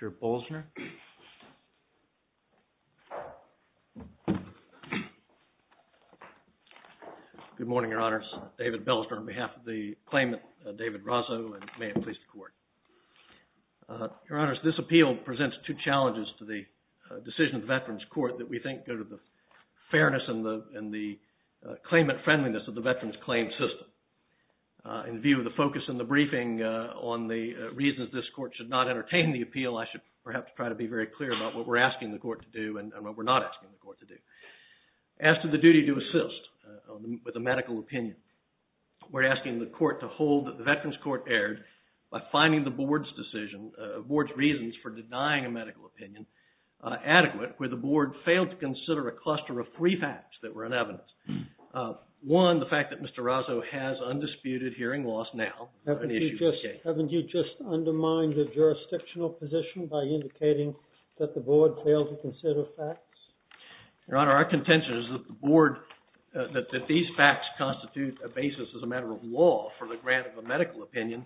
Mr. Bollesner Good morning, Your Honors, David Bollesner on behalf of the claimant, David Razo, and may it please the Court. Your Honors, this appeal presents two challenges to the decision of the Veterans Court that we think go to the fairness and the claimant-friendliness of the Veterans Claims System. In view of the focus in the briefing on the reasons this Court should not entertain the appeal, I should perhaps try to be very clear about what we're asking the Court to do and what we're not asking the Court to do. As to the duty to assist with a medical opinion, we're asking the Court to hold that the Veterans Court erred by finding the Board's decision, the Board's reasons for denying a medical opinion adequate where the Board failed to consider a cluster of three facts that were in evidence. One, the fact that Mr. Razo has undisputed hearing loss now. Haven't you just undermined the jurisdictional position by indicating that the Board failed to consider facts? Your Honor, our contention is that the Board, that these facts constitute a basis as a matter of law for the grant of a medical opinion,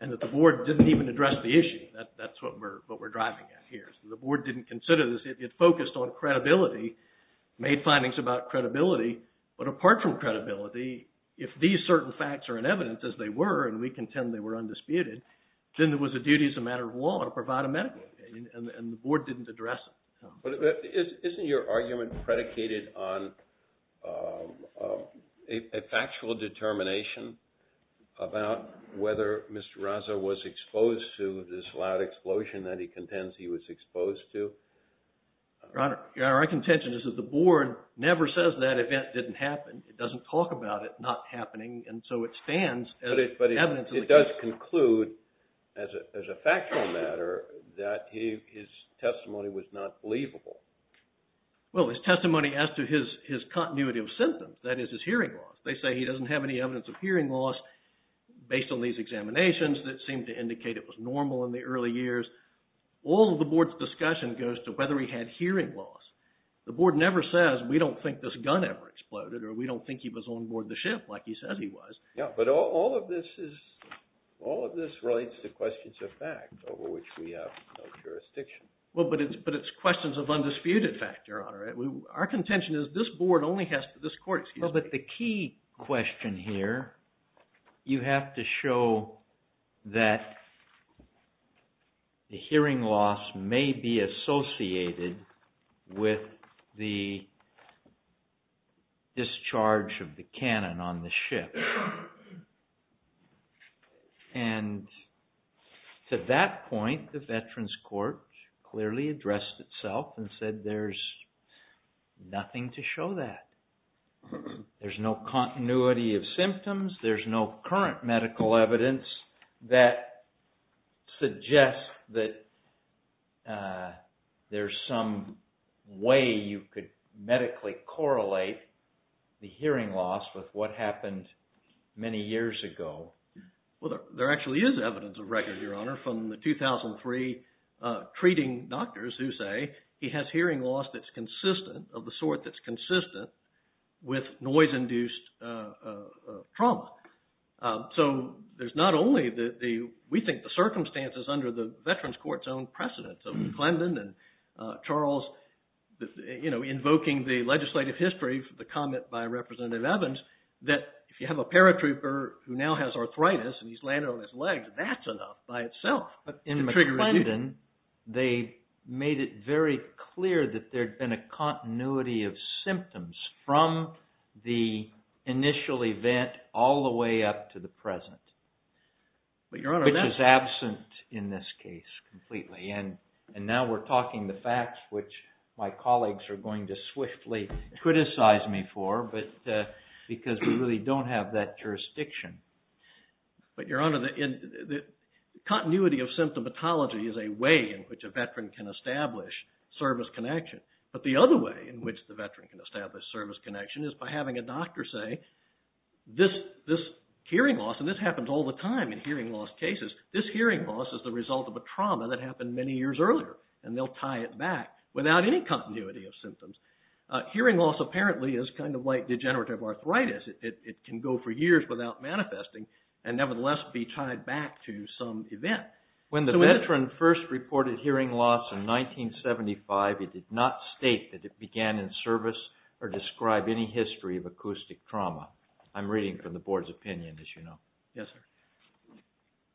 and that the Board didn't even address the issue. That's what we're driving at here. The Board didn't consider this. It focused on credibility, made findings about credibility, but apart from credibility, if these certain facts are in evidence, as they were, and we contend they were undisputed, then it was a duty as a matter of law to provide a medical opinion, and the Board didn't address it. But isn't your argument predicated on a factual determination about whether Mr. Razo was exposed to this loud explosion that he contends he was exposed to? Your Honor, our contention is that the Board never says that event didn't happen. It doesn't talk about it not happening, and so it stands as evidence of the case. Well, his testimony as to his continuity of symptoms, that is his hearing loss, they say he doesn't have any evidence of hearing loss based on these examinations that seem to indicate it was normal in the early years. All of the Board's discussion goes to whether he had hearing loss. The Board never says, we don't think this gun ever exploded, or we don't think he was on board the ship like he says he was. Yeah, but all of this relates to questions of fact, over which we have no jurisdiction. Well, but it's questions of undisputed fact, Your Honor. Our contention is this Board only has to, this Court, excuse me. Well, but the key question here, you have to show that the hearing loss may be associated with the discharge of the cannon on the ship. And to that point, the Veterans Court clearly addressed itself and said there's nothing to show that. There's no continuity of symptoms. There's no current medical evidence that suggests that there's some way you could medically correlate the hearing loss with what happened many years ago. Well, there actually is evidence of record, Your Honor, from the 2003 treating doctors who say he has hearing loss that's consistent, of the sort that's consistent, with noise induced trauma. So there's not only the, we think the circumstances under the Veterans Court's own precedent, so McClendon and Charles, you know, invoking the legislative history, the comment by Representative Evans, that if you have a paratrooper who now has arthritis and he's landed on his legs, that's enough by itself. But in McClendon, they made it very clear that there'd been a continuity of symptoms from the initial event all the way up to the present. But Your Honor, that's... And now we're talking the facts, which my colleagues are going to swiftly criticize me for, because we really don't have that jurisdiction. But Your Honor, the continuity of symptomatology is a way in which a veteran can establish service connection. But the other way in which the veteran can establish service connection is by having a doctor say, this hearing loss, and this happens all the time in hearing loss cases, this hearing loss is the result of a trauma that happened many years earlier, and they'll tie it back without any continuity of symptoms. Hearing loss apparently is kind of like degenerative arthritis. It can go for years without manifesting, and nevertheless be tied back to some event. When the veteran first reported hearing loss in 1975, it did not state that it began in service or describe any history of acoustic trauma. I'm reading from the Board's opinion, as you know. Yes, sir.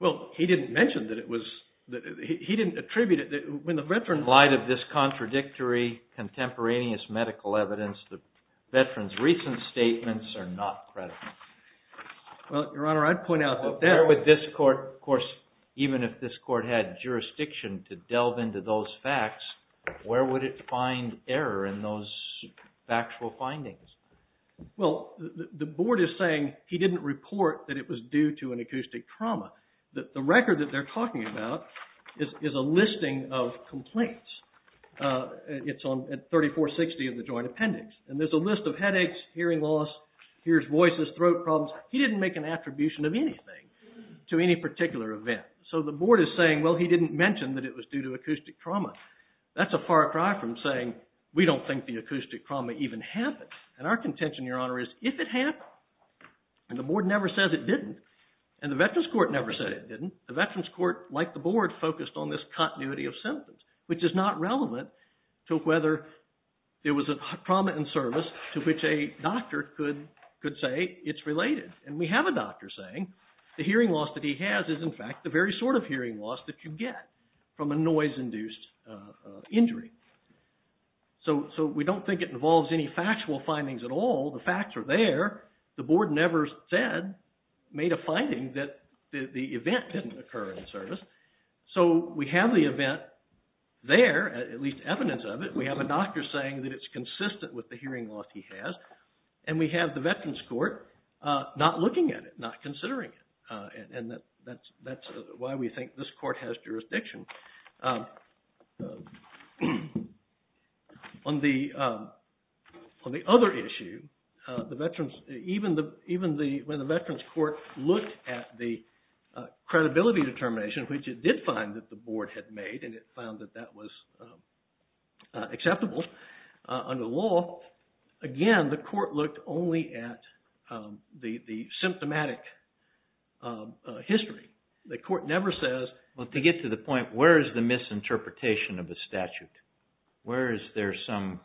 Well, he didn't mention that it was... He didn't attribute it... In light of this contradictory, contemporaneous medical evidence, the veteran's recent statements are not credible. Well, Your Honor, I'd point out that... Of course, even if this court had jurisdiction to delve into those facts, where would it find error in those factual findings? Well, the Board is saying he didn't report that it was due to an acoustic trauma. The record that they're talking about is a listing of complaints. It's on 3460 of the Joint Appendix, and there's a list of headaches, hearing loss, hears voices, throat problems. He didn't make an attribution of anything to any particular event. So the Board is saying, well, he didn't mention that it was due to acoustic trauma. That's a far cry from saying we don't think the acoustic trauma even happened. And our contention, Your Honor, is if it happened, and the Board never says it didn't, and the Veterans Court never said it didn't, the Veterans Court, like the Board, focused on this continuity of symptoms, which is not relevant to whether it was a trauma in service to which a doctor could say it's related. And we have a doctor saying the hearing loss that he has is, in fact, the very sort of injury. So we don't think it involves any factual findings at all. The facts are there. The Board never said, made a finding that the event didn't occur in service. So we have the event there, at least evidence of it. We have a doctor saying that it's consistent with the hearing loss he has. And we have the Veterans Court not looking at it, not considering it. And that's why we think this Court has jurisdiction. On the other issue, even when the Veterans Court looked at the credibility determination, which it did find that the Board had made, and it found that that was acceptable under the law, again, the Court looked only at the symptomatic history. The Court never says... But to get to the point, where is the misinterpretation of the statute? Where is there some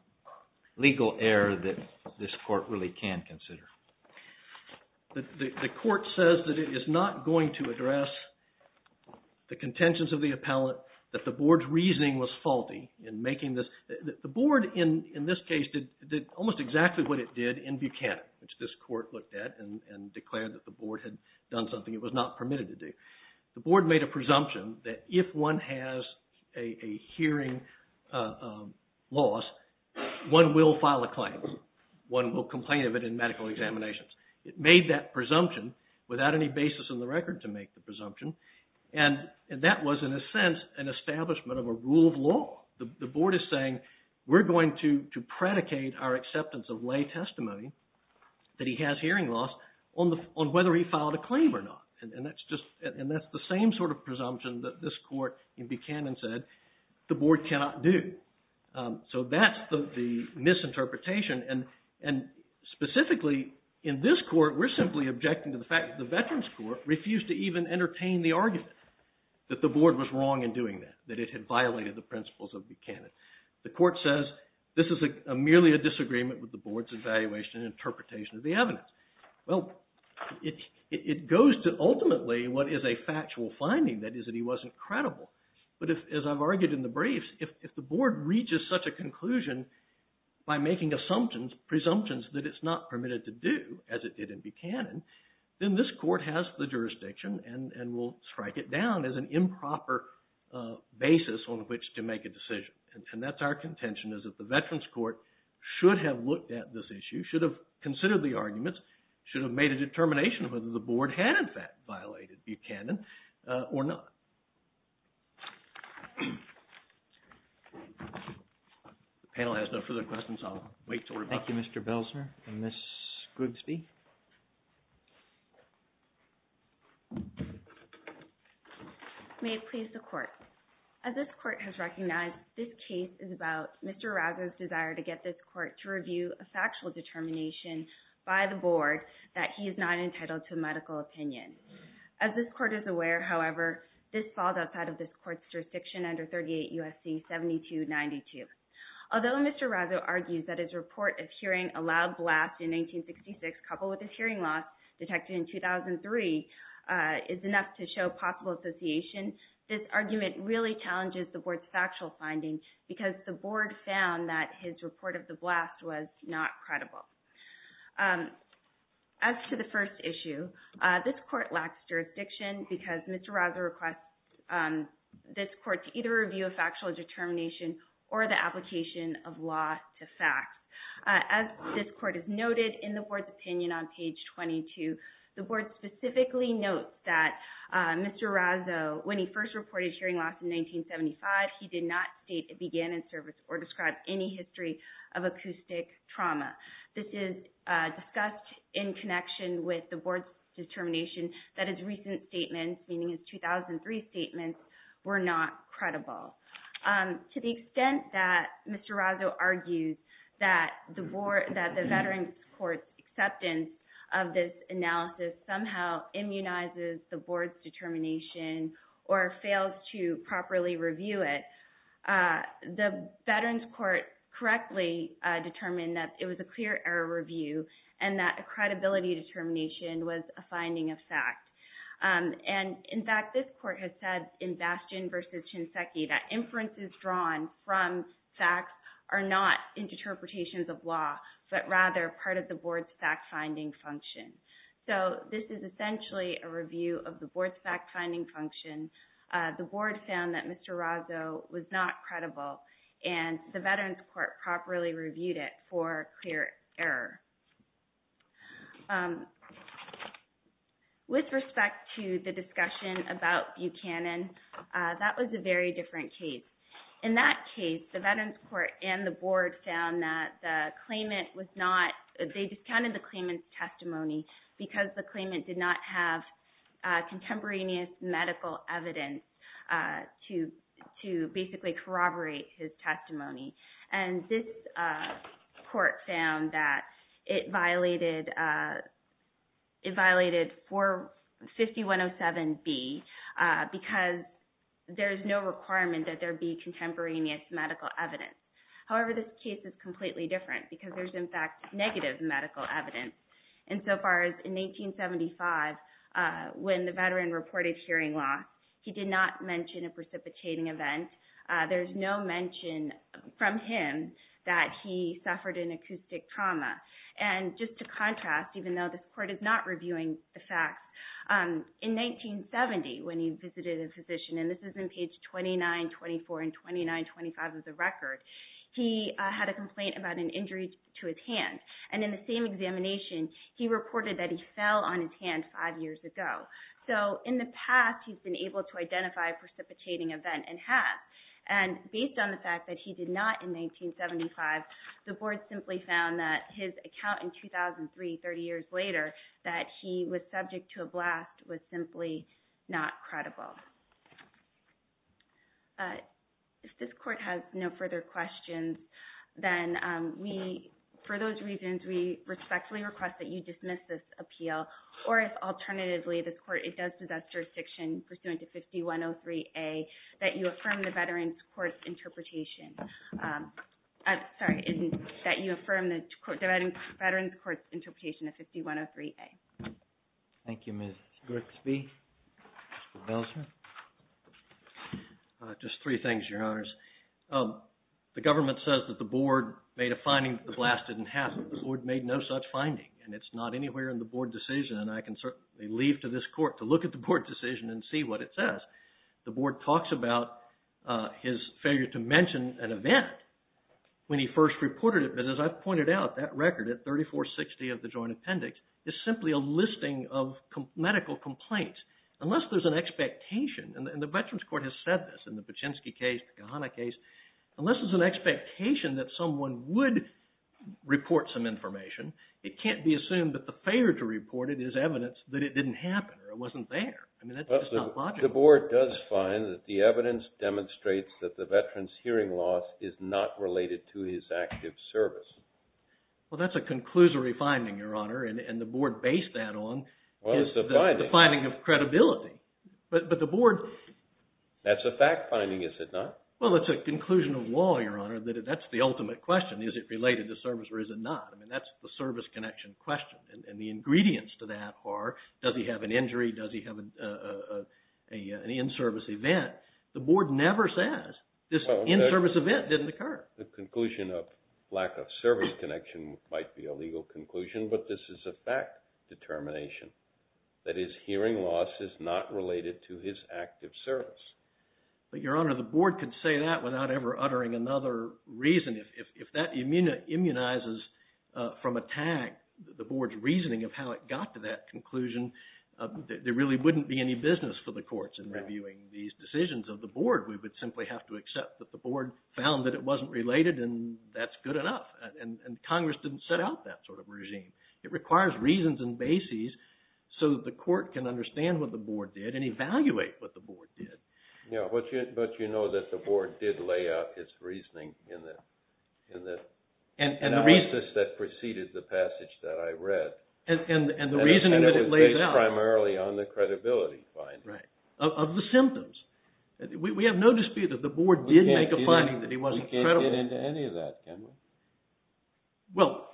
legal error that this Court really can consider? The Court says that it is not going to address the contentions of the appellate, that the Board's reasoning was faulty in making this... The Board, in this case, did almost exactly what it did in Buchanan, which this Court looked at and declared that the Board had done something it was not permitted to do. The Board made a presumption that if one has a hearing loss, one will file a claim. One will complain of it in medical examinations. It made that presumption without any basis in the record to make the presumption. And that was, in a sense, an establishment of a rule of law. The Board is saying, we're going to predicate our acceptance of lay testimony that he has hearing loss on whether he filed a claim or not. And that's the same sort of presumption that this Court in Buchanan said the Board cannot do. So that's the misinterpretation. And specifically, in this Court, we're simply objecting to the fact that the Veterans Court refused to even entertain the argument that the Board was wrong in doing that, that it had violated the principles of Buchanan. The Court says, this is merely a disagreement with the Board's evaluation and interpretation of the evidence. Well, it goes to ultimately what is a factual finding, that is, that he wasn't credible. But as I've argued in the briefs, if the Board reaches such a conclusion by making assumptions, presumptions that it's not permitted to do, as it did in Buchanan, then this Court has the jurisdiction and will strike it down as an improper basis on which to make a decision. And that's our contention, is that the Veterans Court should have looked at this issue, should have considered the arguments, should have made a determination whether the Board had in fact violated Buchanan or not. The panel has no further questions. I'll wait until we're done. Thank you, Mr. Belsner. And Ms. Goodsby? May it please the Court. As this Court has recognized, this case is about Mr. Arazo's desire to get this Court to review a factual determination by the Board that he is not entitled to medical opinion. As this Court is aware, however, this falls outside of this Court's jurisdiction under 38 U.S.C. 7292. Although Mr. Arazo argues that his report of hearing a loud blast in 1966 coupled with his hearing loss detected in 2003 is enough to show possible association, this argument really challenges the Board's factual finding because the Board found that his report of the blast was not credible. As to the first issue, this Court lacks jurisdiction because Mr. Arazo requests this Court to either review a factual determination or the application of law to fact. As this Court has noted in the Board's opinion on page 22, the Board specifically notes that Mr. Arazo, when he first reported hearing loss in 1975, he did not state it began in service or describe any history of acoustic trauma. This is discussed in connection with the Board's determination that his recent statements, meaning his 2003 statements, were not credible. To the extent that Mr. Arazo argues that the Veterans Court's acceptance of this analysis somehow immunizes the Board's determination or fails to properly review it, the Veterans Court correctly determined that it was a clear error review and that a credibility determination was a finding of fact. In fact, this Court has said in Bastion v. Shinseki that inferences drawn from facts are not interpretations of law but rather part of the Board's fact-finding function. This is essentially a review of the Board's fact-finding function. The Board found that Mr. Arazo was not credible and the Veterans Court properly reviewed it for clear error. With respect to the discussion about Buchanan, that was a very different case. In that case, the Veterans Court and the Board found that they discounted the claimant's testimony because the claimant did not have contemporaneous medical evidence to basically corroborate his testimony. This Court found that it violated 450107B because there is no requirement that there be contemporaneous medical evidence. However, this case is completely different because there is, in fact, negative medical evidence. In 1875, when the veteran reported hearing loss, he did not mention a precipitating event. There is no mention from him that he suffered an acoustic trauma. Just to contrast, even though this Court is not reviewing the facts, in 1970, when he visited a physician, and this is in page 2924 and 2925 of the record, he had a complaint about an injury to his hand. In the same examination, he reported that he fell on his hand five years ago. In the past, he's been able to identify a precipitating event and have. Based on the fact that he did not in 1975, the Board simply found that his account in 2003, 30 years later, that he was subject to a blast was simply not credible. If this Court has no further questions, then for those reasons, we respectfully request that you dismiss this appeal, or if, alternatively, this Court, it does possess jurisdiction pursuant to 5103A, that you affirm the Veterans Court's interpretation of 5103A. Thank you, Ms. Grisby. Mr. Belzman? Just three things, Your Honors. The government says that the Board made a finding that the blast didn't happen. The Board made no such finding, and it's not anywhere in the Board decision, and I can certainly leave to this Court to look at the Board decision and see what it says. The Board talks about his failure to mention an event when he first reported it, but as I've pointed out, that record at 3460 of the Joint Appendix is simply a listing of medical complaints. Unless there's an expectation, and the Veterans Court has said this in the Paczynski case, the Kahana case, unless there's an expectation that someone would report some information, it can't be assumed that the failure to report it is evidence that it didn't happen, or it wasn't there. I mean, that's just not logical. But the Board does find that the evidence demonstrates that the Veteran's hearing loss is not related to his active service. Well, that's a conclusory finding, Your Honor, and the Board based that on the finding of credibility. But the Board... That's a fact finding, is it not? Well, it's a conclusion of law, Your Honor. That's the ultimate question, is it related to service or is it not? I mean, that's the service connection question, and the ingredients to that are, does he have an injury, does he have an in-service event? The Board never says this in-service event didn't occur. The conclusion of lack of service connection might be a legal conclusion, but this is a fact determination. That his hearing loss is not related to his active service. But, Your Honor, the Board could say that without ever uttering another reason. If that immunizes from a tag the Board's reasoning of how it got to that conclusion, there really wouldn't be any business for the courts in reviewing these decisions of the Board. We would simply have to accept that the Board found that it wasn't related and that's good enough, and Congress didn't set out that sort of regime. It requires reasons and bases so that the court can understand what the Board did and evaluate what the Board did. Yeah, but you know that the Board did lay out its reasoning in the analysis that preceded the passage that I read. And the reasoning that it lays out. And it was based primarily on the credibility findings. Right, of the symptoms. We have no dispute that the Board did make a finding that he wasn't credible. We can't get into any of that, can we? Well,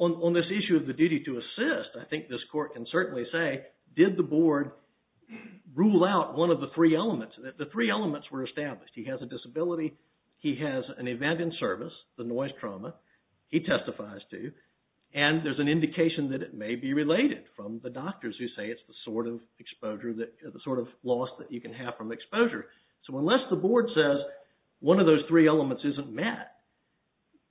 on this issue of the duty to assist, I think this court can certainly say, did the Board rule out one of the three elements? The three elements were established. He has a disability, he has an event in service, the noise trauma, he testifies to, and there's an indication that it may be related from the doctors who say it's the sort of loss that you can have from exposure. So unless the Board says one of those three elements isn't met,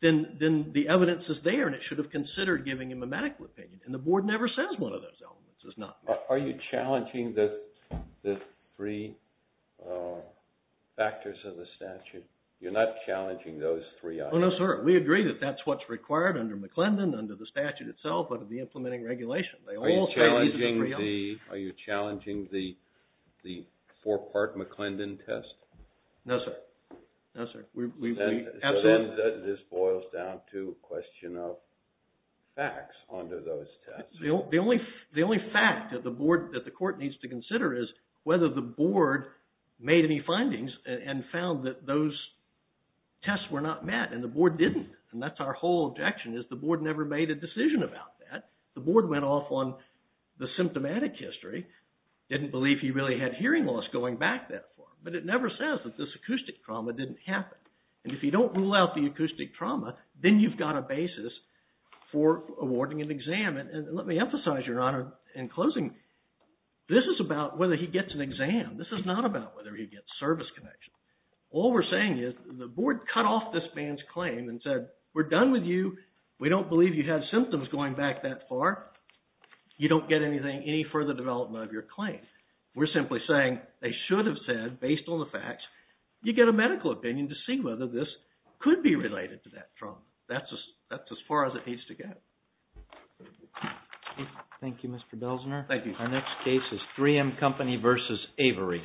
then the evidence is there and it should have considered giving him a medical opinion. And the Board never says one of those elements is not met. Are you challenging the three factors of the statute? You're not challenging those three items? No, sir. We agree that that's what's required under McClendon, under the statute itself, under the implementing regulation. Are you challenging the four-part McClendon test? No, sir. No, sir. So this boils down to a question of facts under those tests. The only fact that the Court needs to consider is whether the Board made any findings and found that those tests were not met, and the Board didn't. And that's our whole objection, is the Board never made a decision about that. The Board went off on the symptomatic history, didn't believe he really had hearing loss going back that far. But it never says that this acoustic trauma didn't happen. And if you don't rule out the acoustic trauma, then you've got a basis for awarding an exam. And let me emphasize, Your Honor, in closing, this is about whether he gets an exam. This is not about whether he gets service connection. All we're saying is the Board cut off this man's claim and said, we're done with you. We don't believe you had symptoms going back that far. You don't get anything, any further development of your claim. We're simply saying they should have said, based on the facts, you get a medical opinion to see whether this could be related to that trauma. That's as far as it needs to get. Thank you, Mr. Belzner. Thank you. Our next case is 3M Company v. Avery.